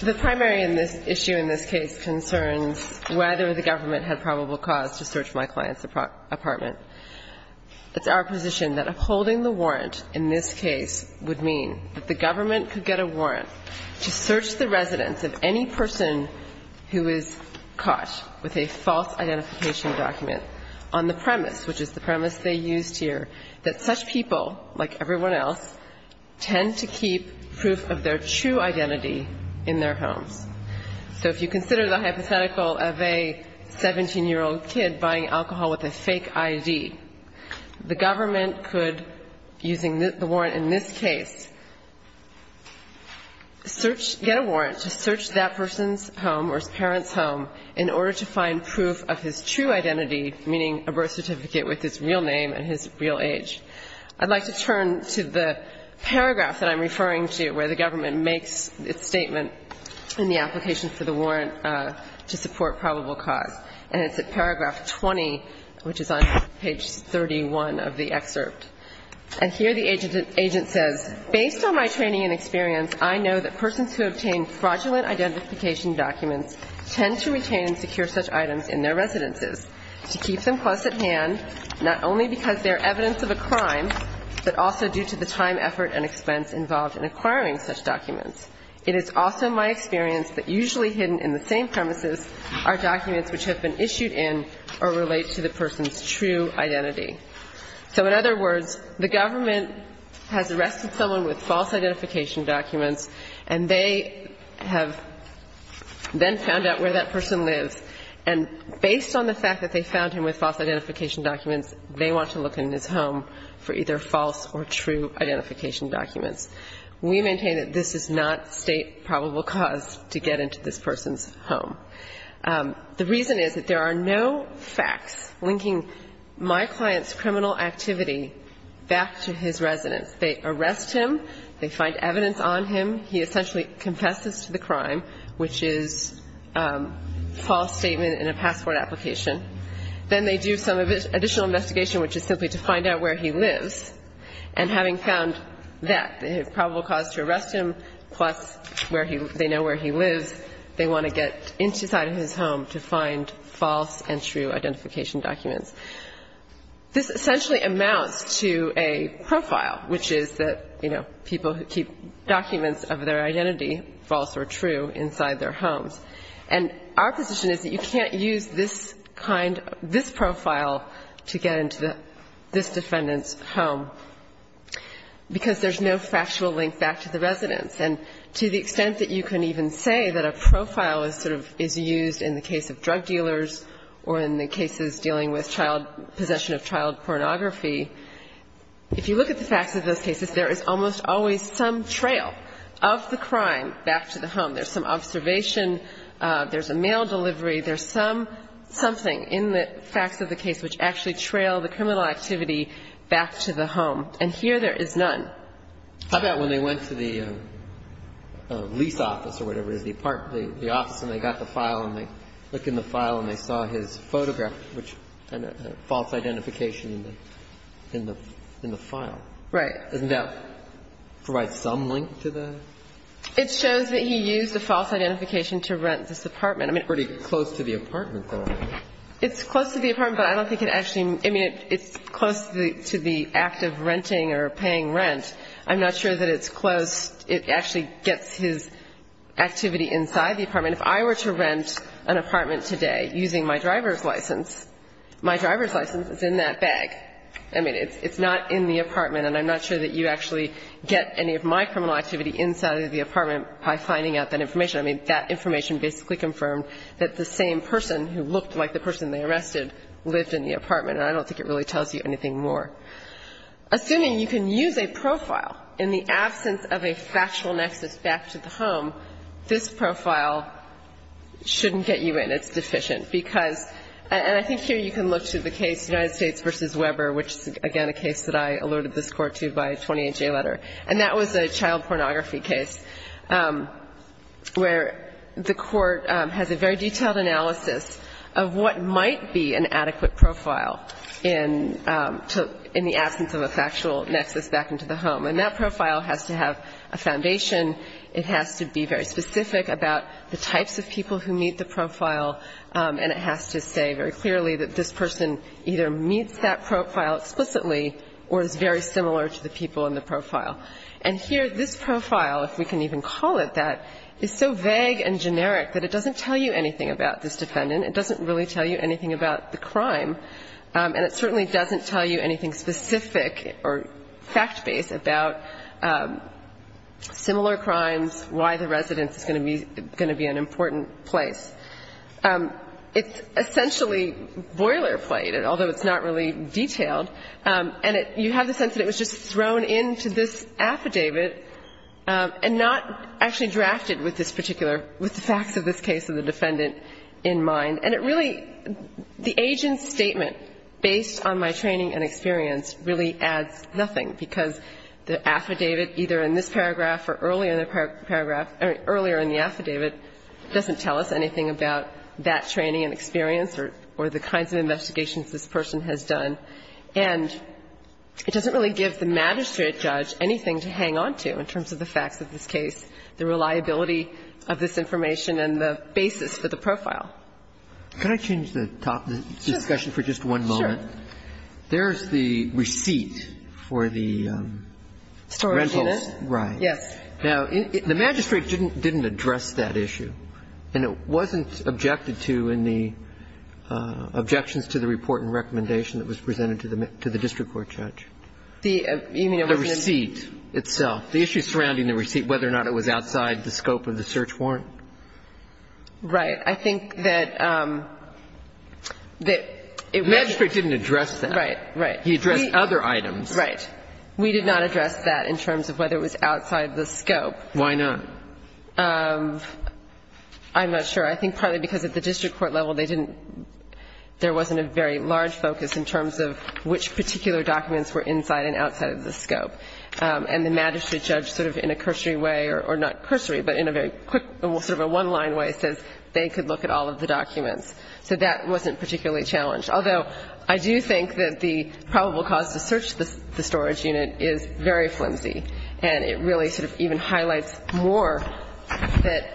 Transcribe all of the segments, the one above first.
The primary issue in this case concerns whether the government had probable cause to search my client's apartment. It's our position that upholding the warrant in this case would mean that the government could get a warrant to search the residence of any person who is caught with a false identification document on the premise, which is the premise they used here, that such people, like everyone else, tend to keep proof of their true identity in their homes. So if you consider the hypothetical of a 17-year-old kid buying alcohol with a fake ID, the government could, using the warrant in this case, get a warrant to search that person's home or his parent's home in order to find proof of his true identity. I'd like to turn to the paragraph that I'm referring to where the government makes its statement in the application for the warrant to support probable cause. And it's at paragraph 20, which is on page 31 of the excerpt. And here the agent says, Based on my training and experience, I know that persons who obtain fraudulent identification documents tend to retain and secure such items in their residences to keep them close at hand, not only because they're evidence of a crime, but also due to the time, effort, and expense involved in acquiring such documents. It is also my experience that usually hidden in the same premises are documents which have been issued in or relate to the person's true identity. So in other words, the government has arrested someone with false identification documents, and they have then found out where that person lives. And based on the fact that they found him with false identification documents, they want to look in his home for either false or true identification documents. We maintain that this is not state probable cause to get into this person's home. The reason is that there are no facts linking my client's criminal activity back to his residence. They arrest him. They find evidence on him. He essentially confesses to the crime, which is false statement in a passport application. Then they do some additional investigation, which is simply to find out where he lives. And having found that probable cause to arrest him, plus where he they know where he lives, they want to get inside of his home to find false and true identification documents. This essentially amounts to a profile, which is that, you know, people keep documents of their identity, false or true, inside their homes. And our position is that you can't use this kind of this profile to get into the this defendant's home, because there's no factual link back to the residence. And to the extent that you can even say that a profile is sort of is used in the case of drug dealers or in the cases dealing with child possession of child pornography, if you look at the facts of those cases, there's a trail of the crime back to the home. There's some observation. There's a mail delivery. There's some something in the facts of the case which actually trail the criminal activity back to the home. And here there is none. How about when they went to the lease office or whatever it is, the apartment or the office, and they got the file and they look in the file and they saw his photograph, which had a false identification in the file? Right. Doesn't that provide some link to that? It shows that he used a false identification to rent this apartment. I mean, pretty close to the apartment, though. It's close to the apartment, but I don't think it actually, I mean, it's close to the act of renting or paying rent. I'm not sure that it's close. It actually gets his activity inside the apartment. If I were to rent an apartment today using my driver's license, my driver's license is in that bag. I mean, it's not in the apartment, and I'm not sure that you actually get any of my criminal activity inside of the apartment by finding out that information. I mean, that information basically confirmed that the same person who looked like the person they arrested lived in the apartment, and I don't think it really tells you anything more. Assuming you can use a profile in the absence of a factual nexus back to the home, this profile shouldn't get you in. And I think here you can look to the case United States v. Weber, which is, again, a case that I alerted this Court to by a 28-J letter, and that was a child pornography case where the Court has a very detailed analysis of what might be an adequate profile in the absence of a factual nexus back into the home, and that profile has to have a foundation. It has to be very specific about the types of people who meet the profile, and it has to say very clearly that this person either meets that profile explicitly or is very similar to the people in the profile. And here, this profile, if we can even call it that, is so vague and generic that it doesn't tell you anything about this defendant. It doesn't really tell you anything about the crime, and it certainly doesn't tell you anything specific or fact-based about similar crimes, why the residence is going to be an important place. It's essentially boilerplate, although it's not really detailed, and you have the sense that it was just thrown into this affidavit and not actually drafted with this particular, with the facts of this case of the defendant in mind. And it really, the agent's statement, based on my training and experience, really adds nothing, because the affidavit, either in this paragraph or earlier in the paragraph or earlier in the affidavit, doesn't tell us anything about that training and experience or the kinds of investigations this person has done. And it doesn't really give the magistrate judge anything to hang on to in terms of the facts of this case, the reliability of this information and the basis for the profile. Can I change the top of the discussion for just one moment? Sure. There's the receipt for the rentals. Storage unit. Right. Yes. Now, the magistrate didn't address that issue, and it wasn't objected to in the objections to the report and recommendation that was presented to the district court judge. The receipt itself, the issue surrounding the receipt, whether or not it was outside the scope of the search warrant. Right. I think that it was — The magistrate didn't address that. Right, right. He addressed other items. Right. We did not address that in terms of whether it was outside the scope. Why not? I'm not sure. I think partly because at the district court level, they didn't — there wasn't a very large focus in terms of which particular documents were inside and outside of the scope. And the magistrate judge sort of in a cursory way, or not cursory, but in a very quick sort of a one-line way, says they could look at all of the documents. So that wasn't particularly challenged. Although, I do think that the probable cause to search the storage unit is very flimsy, and it really sort of even highlights more that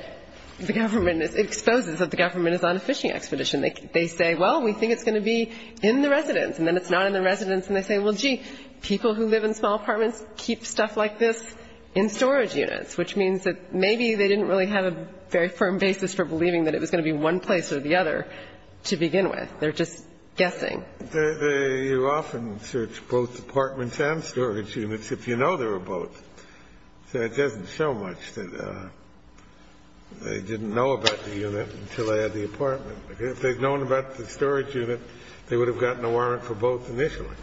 the government is — exposes that the government is on a fishing expedition. They say, well, we think it's going to be in the residence, and then it's not in the residence. So they don't keep stuff like this in storage units, which means that maybe they didn't really have a very firm basis for believing that it was going to be one place or the other to begin with. They're just guessing. You often search both apartments and storage units if you know they were both. So it doesn't show much that they didn't know about the unit until they had the apartment. If they'd known about the storage unit, they would have gotten a warrant for both initially.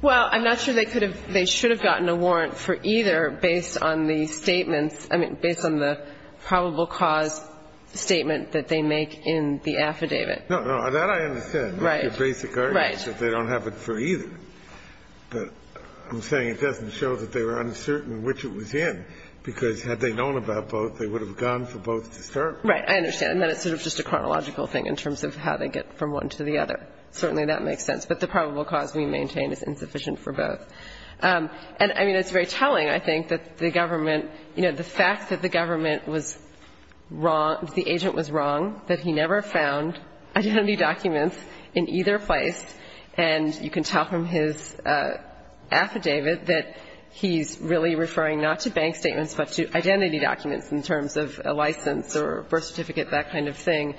Well, I'm not sure they could have — they should have gotten a warrant for either based on the statements — I mean, based on the probable cause statement that they make in the affidavit. No, no. That I understand. Right. Your basic argument is that they don't have it for either. But I'm saying it doesn't show that they were uncertain which it was in, because had they known about both, they would have gone for both to start with. Right. I understand. And then it's sort of just a chronological thing in terms of how they get from one to the other. Certainly that makes sense. But the probable cause we maintain is insufficient for both. And, I mean, it's very telling, I think, that the government — you know, the fact that the government was wrong — the agent was wrong, that he never found identity documents in either place. And you can tell from his affidavit that he's really referring not to bank statements but to identity documents in terms of a license or birth certificate, that kind of thing.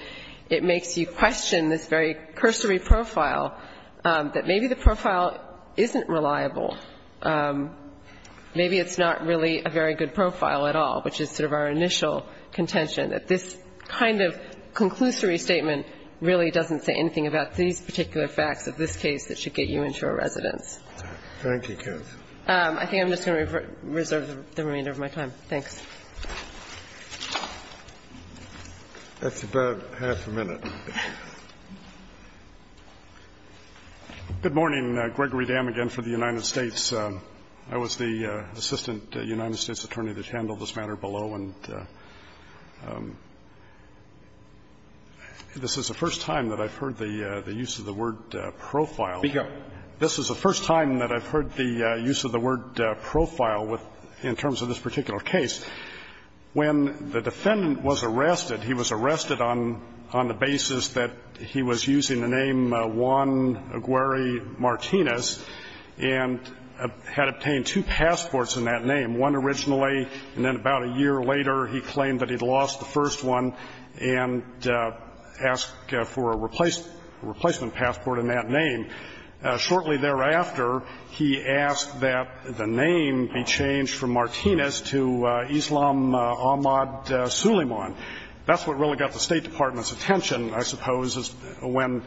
It makes you question this very cursory profile, that maybe the profile isn't reliable. Maybe it's not really a very good profile at all, which is sort of our initial contention, that this kind of conclusory statement really doesn't say anything about these particular facts of this case that should get you into a residence. Thank you, counsel. I think I'm just going to reserve the remainder of my time. Thanks. That's about half a minute. Good morning. Gregory Dam, again, for the United States. I was the assistant United States attorney that handled this matter below. And this is the first time that I've heard the use of the word profile. Speak up. This is the first time that I've heard the use of the word profile with — in terms of this particular case. When the defendant was arrested, he was arrested on the basis that he was using the name Juan Aguirre Martinez and had obtained two passports in that name, one originally and then about a year later he claimed that he'd lost the first one and asked for a replacement passport in that name. Shortly thereafter, he asked that the name be changed from Martinez to Islam Ahmad Suleiman. That's what really got the State Department's attention, I suppose, is when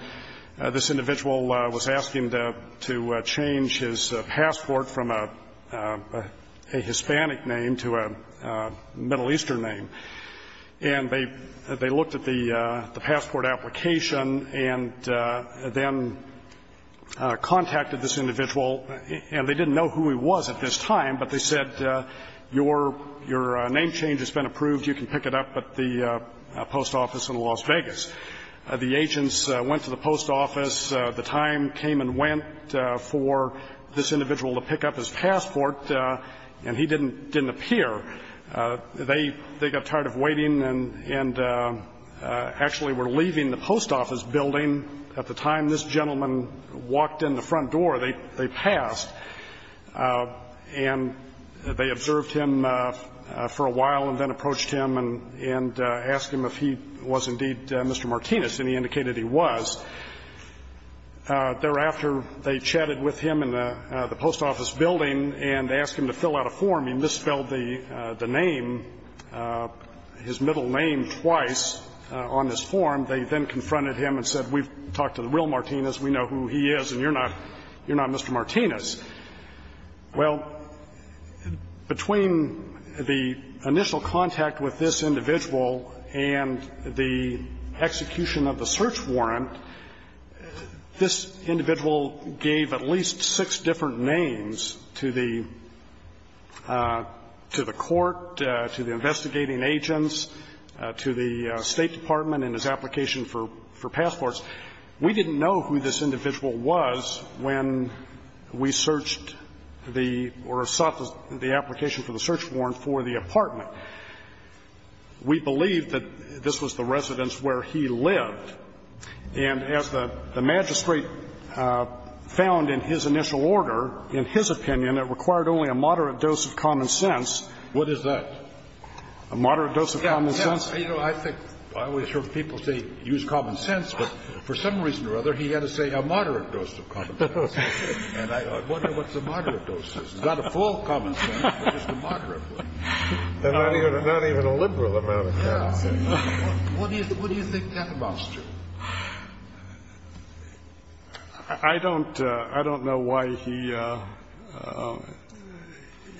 this individual was asking to change his passport from a Hispanic name to a Middle Eastern name. And they looked at the passport application and then contacted this individual and they didn't know who he was at this time, but they said, your name change has been approved. You can pick it up at the post office in Las Vegas. The agents went to the post office. The time came and went for this individual to pick up his passport, and he didn't appear. They got tired of waiting and actually were leaving the post office building at the time this gentleman walked in the front door. They passed. And they observed him for a while and then approached him and asked him if he was indeed Mr. Martinez, and he indicated he was. Thereafter, they chatted with him in the post office building and asked him to fill out a form. He misspelled the name, his middle name, twice on this form. They then confronted him and said, we've talked to the real Martinez. We know who he is, and you're not Mr. Martinez. Well, between the initial contact with this individual and the execution of the search warrant to the court, to the investigating agents, to the State Department and his application for passports, we didn't know who this individual was when we searched the or sought the application for the search warrant for the apartment. We believed that this was the residence where he lived. And as the magistrate found in his initial order, in his opinion, it required only a moderate dose of common sense. What is that? A moderate dose of common sense. Yes. You know, I think I always hear people say use common sense, but for some reason or other, he had to say a moderate dose of common sense. And I wonder what the moderate dose is. It's not a full common sense, but just a moderate one. Not even a liberal amount of common sense. Yes. What do you think that amounts to? I don't know why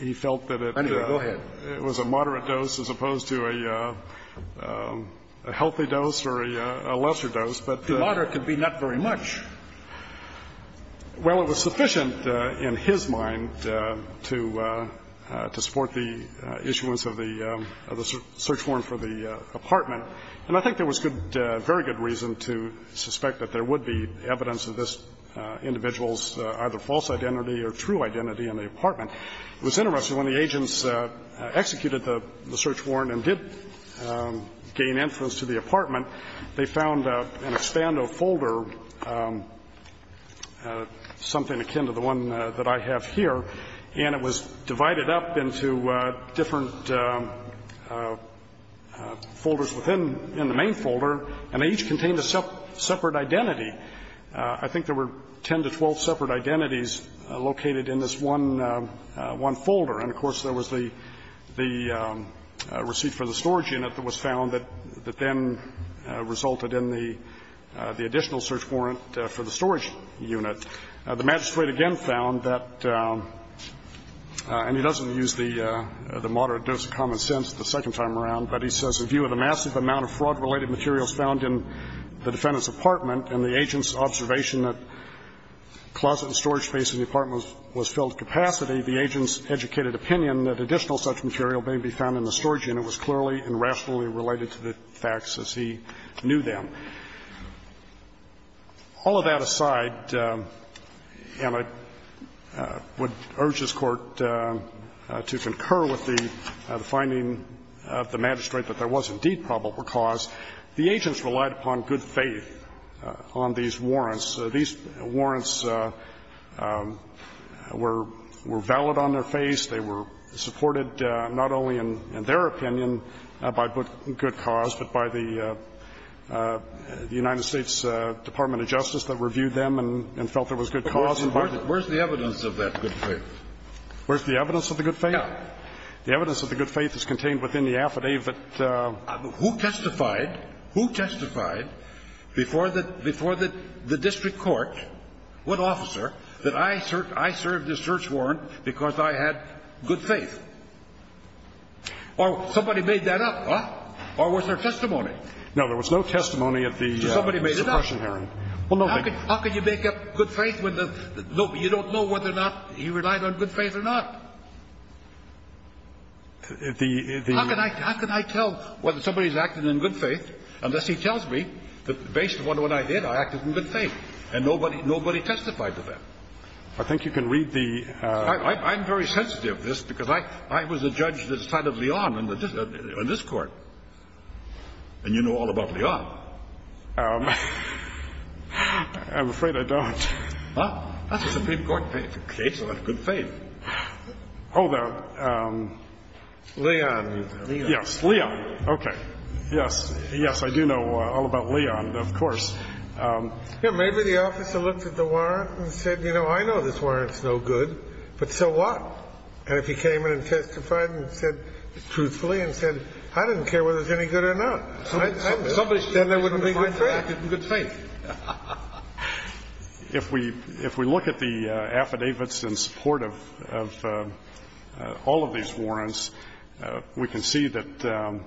he felt that it was a moderate dose as opposed to a healthy dose or a lesser dose. But the moderate could be not very much. Well, it was sufficient in his mind to support the issuance of the search warrant for the apartment. And I think there was good, very good reason to suspect that there would be evidence of this individual's either false identity or true identity in the apartment. It was interesting. When the agents executed the search warrant and did gain entrance to the apartment, they found an Expando folder, something akin to the one that I have here, and it was in the main folder, and they each contained a separate identity. I think there were 10 to 12 separate identities located in this one folder. And, of course, there was the receipt for the storage unit that was found that then resulted in the additional search warrant for the storage unit. The magistrate again found that, and he doesn't use the moderate dose of common ground, but he says, A view of the massive amount of fraud-related materials found in the defendant's apartment and the agent's observation that closet and storage space in the apartment was filled to capacity, the agent's educated opinion that additional such material may be found in the storage unit was clearly and rationally related to the facts as he knew them. All of that aside, and I would urge this Court to concur with the finding of the magistrate that there was indeed probable cause. The agents relied upon good faith on these warrants. These warrants were valid on their face. They were supported not only in their opinion by good cause, but by the United States Department of Justice that reviewed them and felt there was good cause. Kennedy, where's the evidence of that good faith? Where's the evidence of the good faith? The evidence of the good faith is contained within the affidavit. Who testified? Who testified before the district court, what officer, that I served this search warrant because I had good faith? Or somebody made that up, huh? Or was there testimony? No, there was no testimony at the suppression hearing. Somebody made it up. How can you make up good faith when you don't know whether or not he relied on good faith or not? The ---- How can I tell whether somebody's acting in good faith unless he tells me that based on what I did, I acted in good faith, and nobody testified to that? I think you can read the ---- I'm very sensitive to this because I was a judge that started Leon on this Court, and you know all about Leon. I'm afraid I don't. Well, that's a Supreme Court case about good faith. Oh, the ---- Leon. Yes, Leon. Okay. Yes. Yes, I do know all about Leon, of course. Maybe the officer looked at the warrant and said, you know, I know this warrant's no good, but so what? And if he came in and testified and said truthfully and said, I didn't care whether it was any good or not, then there wouldn't be good faith. If we look at the affidavits in support of all of these warrants, we can see that,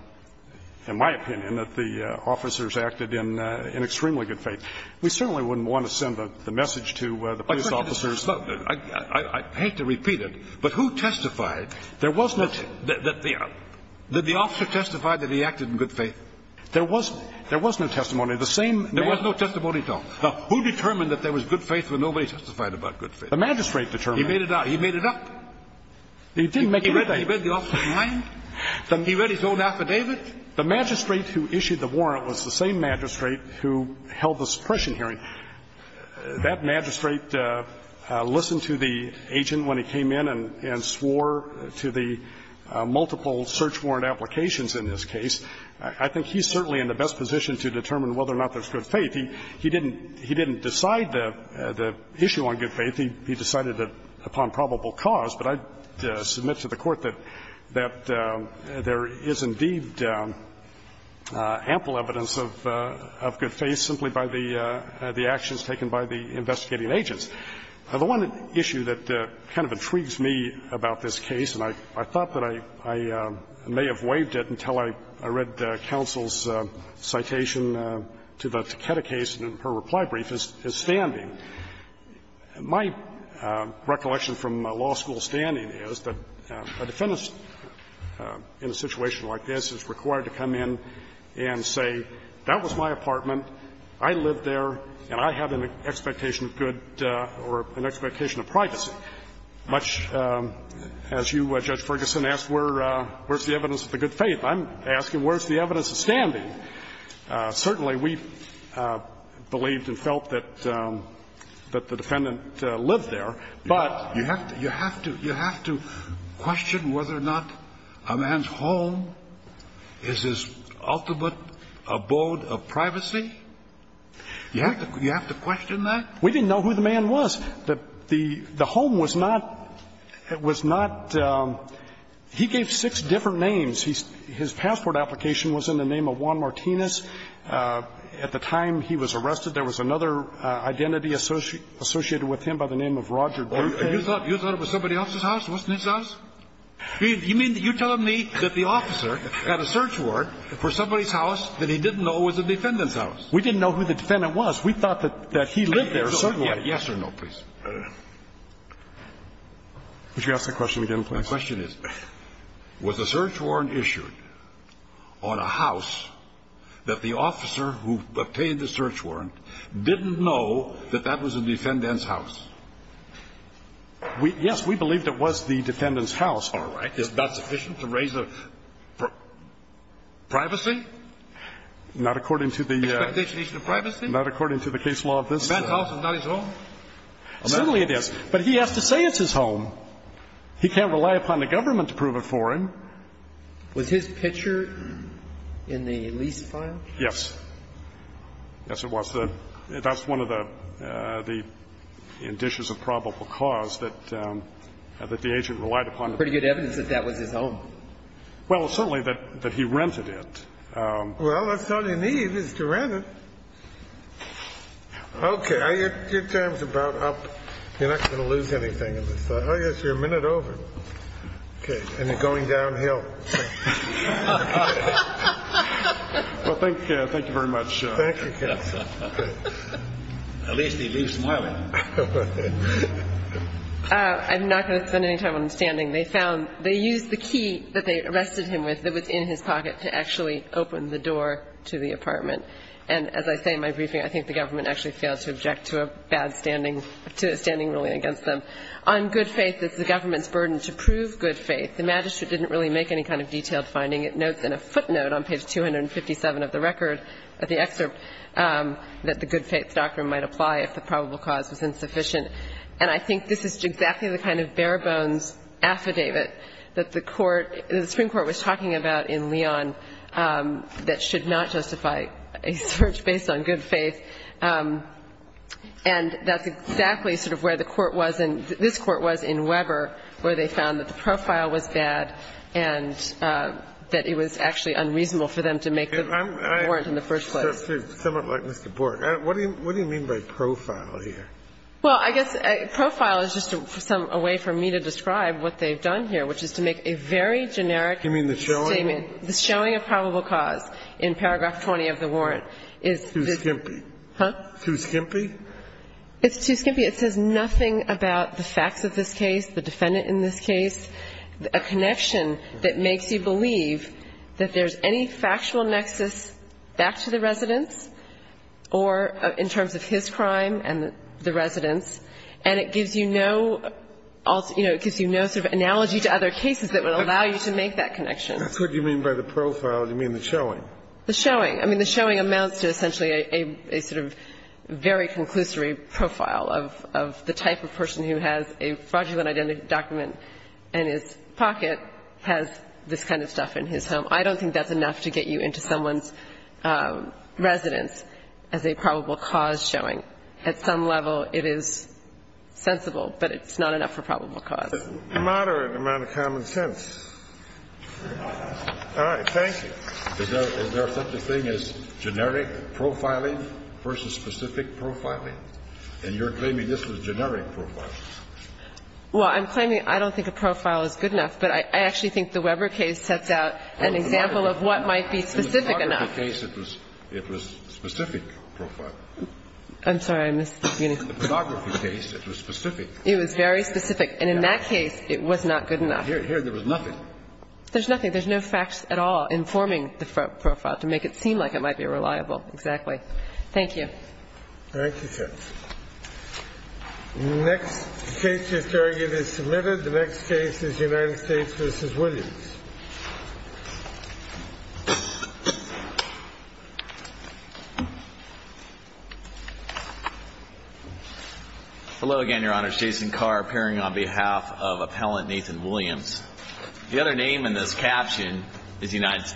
in my opinion, that the officers acted in extremely good faith. We certainly wouldn't want to send the message to the police officers. I hate to repeat it, but who testified that the officer testified that he acted in good faith? There was no testimony. The same magistrate. There was no testimony at all. Now, who determined that there was good faith when nobody testified about good faith? The magistrate determined it. He made it up. He didn't make it up. He read the officer's mind. He read his own affidavit. The magistrate who issued the warrant was the same magistrate who held the suppression hearing. That magistrate listened to the agent when he came in and swore to the multiple search warrant applications in this case. I think he's certainly in the best position to determine whether or not there's good faith. He didn't decide the issue on good faith. He decided it upon probable cause. But I submit to the Court that there is indeed ample evidence of good faith simply by the actions taken by the investigating agents. The one issue that kind of intrigues me about this case, and I thought that I may have waived it until I read counsel's citation to the Takeda case in her reply brief, is standing. My recollection from law school standing is that a defendant in a situation like this is required to come in and say, that was my apartment, I lived there, and I have an expectation of good or an expectation of privacy, much as you, Judge Sotomayor, has a good faith. I'm asking, where's the evidence of standing? Certainly, we believed and felt that the defendant lived there, but you have to question whether or not a man's home is his ultimate abode of privacy? You have to question that? We didn't know who the man was. The home was not, was not, he gave six different names. His passport application was in the name of Juan Martinez. At the time he was arrested, there was another identity associated with him by the name of Roger Duque. You thought it was somebody else's house? It wasn't his house? You mean, you're telling me that the officer had a search warrant for somebody's house that he didn't know was the defendant's house? We didn't know who the defendant was. We thought that he lived there, certainly. Yes or no, please. Would you ask the question again, please? My question is, was a search warrant issued on a house that the officer who obtained the search warrant didn't know that that was the defendant's house? Yes, we believed it was the defendant's house. All right. Is that sufficient to raise a privacy? Not according to the case law of this case. The defendant's house is not his home? Certainly it is. But he has to say it's his home. He can't rely upon the government to prove it for him. Was his picture in the lease file? Yes. Yes, it was. That's one of the indices of probable cause that the agent relied upon. Pretty good evidence that that was his home. Well, certainly that he rented it. Well, that's all you need is to rent it. Okay. Your time is about up. You're not going to lose anything. Oh, yes, you're a minute over. Okay. And you're going downhill. Well, thank you. Thank you very much. Thank you. At least he leaves smiling. I'm not going to spend any time on standing. They found they used the key that they arrested him with that was in his pocket to actually open the door to the apartment. And as I say in my briefing, I think the government actually failed to object to a bad standing, to a standing ruling against them. On good faith, it's the government's burden to prove good faith. The magistrate didn't really make any kind of detailed finding. It notes in a footnote on page 257 of the record, of the excerpt, that the good faith doctrine might apply if the probable cause was insufficient. And I think this is exactly the kind of bare-bones affidavit that the Court, that should not justify a search based on good faith. And that's exactly sort of where the Court was in this Court was in Weber, where they found that the profile was bad and that it was actually unreasonable for them to make the warrant in the first place. I'm somewhat like Mr. Bort. What do you mean by profile here? Well, I guess profile is just a way for me to describe what they've done here, which is to make a very generic statement. You mean the showing? The showing of probable cause in paragraph 20 of the warrant is this. Too skimpy. Huh? Too skimpy? It's too skimpy. It says nothing about the facts of this case, the defendant in this case, a connection that makes you believe that there's any factual nexus back to the residence or in terms of his crime and the residence. And it gives you no, you know, it gives you no sort of analogy to other cases that would allow you to make that connection. That's what you mean by the profile. You mean the showing. The showing. I mean, the showing amounts to essentially a sort of very conclusory profile of the type of person who has a fraudulent identity document in his pocket has this kind of stuff in his home. I don't think that's enough to get you into someone's residence as a probable cause showing. At some level, it is sensible, but it's not enough for probable cause. It's a moderate amount of common sense. All right. Thank you. Is there such a thing as generic profiling versus specific profiling? And you're claiming this was generic profiling. Well, I'm claiming I don't think a profile is good enough, but I actually think the Weber case sets out an example of what might be specific enough. In the photography case, it was specific profiling. I'm sorry. In the photography case, it was specific. It was very specific. And in that case, it was not good enough. Here, there was nothing. There's nothing. There's no facts at all informing the profile to make it seem like it might be reliable. Exactly. Thank you. Thank you, Judge. The next case you're carrying is submitted. The next case is United States v. Williams. Hello again, Your Honor. It's Jason Carr, appearing on behalf of Appellant Nathan Williams. The other name in this caption is United States.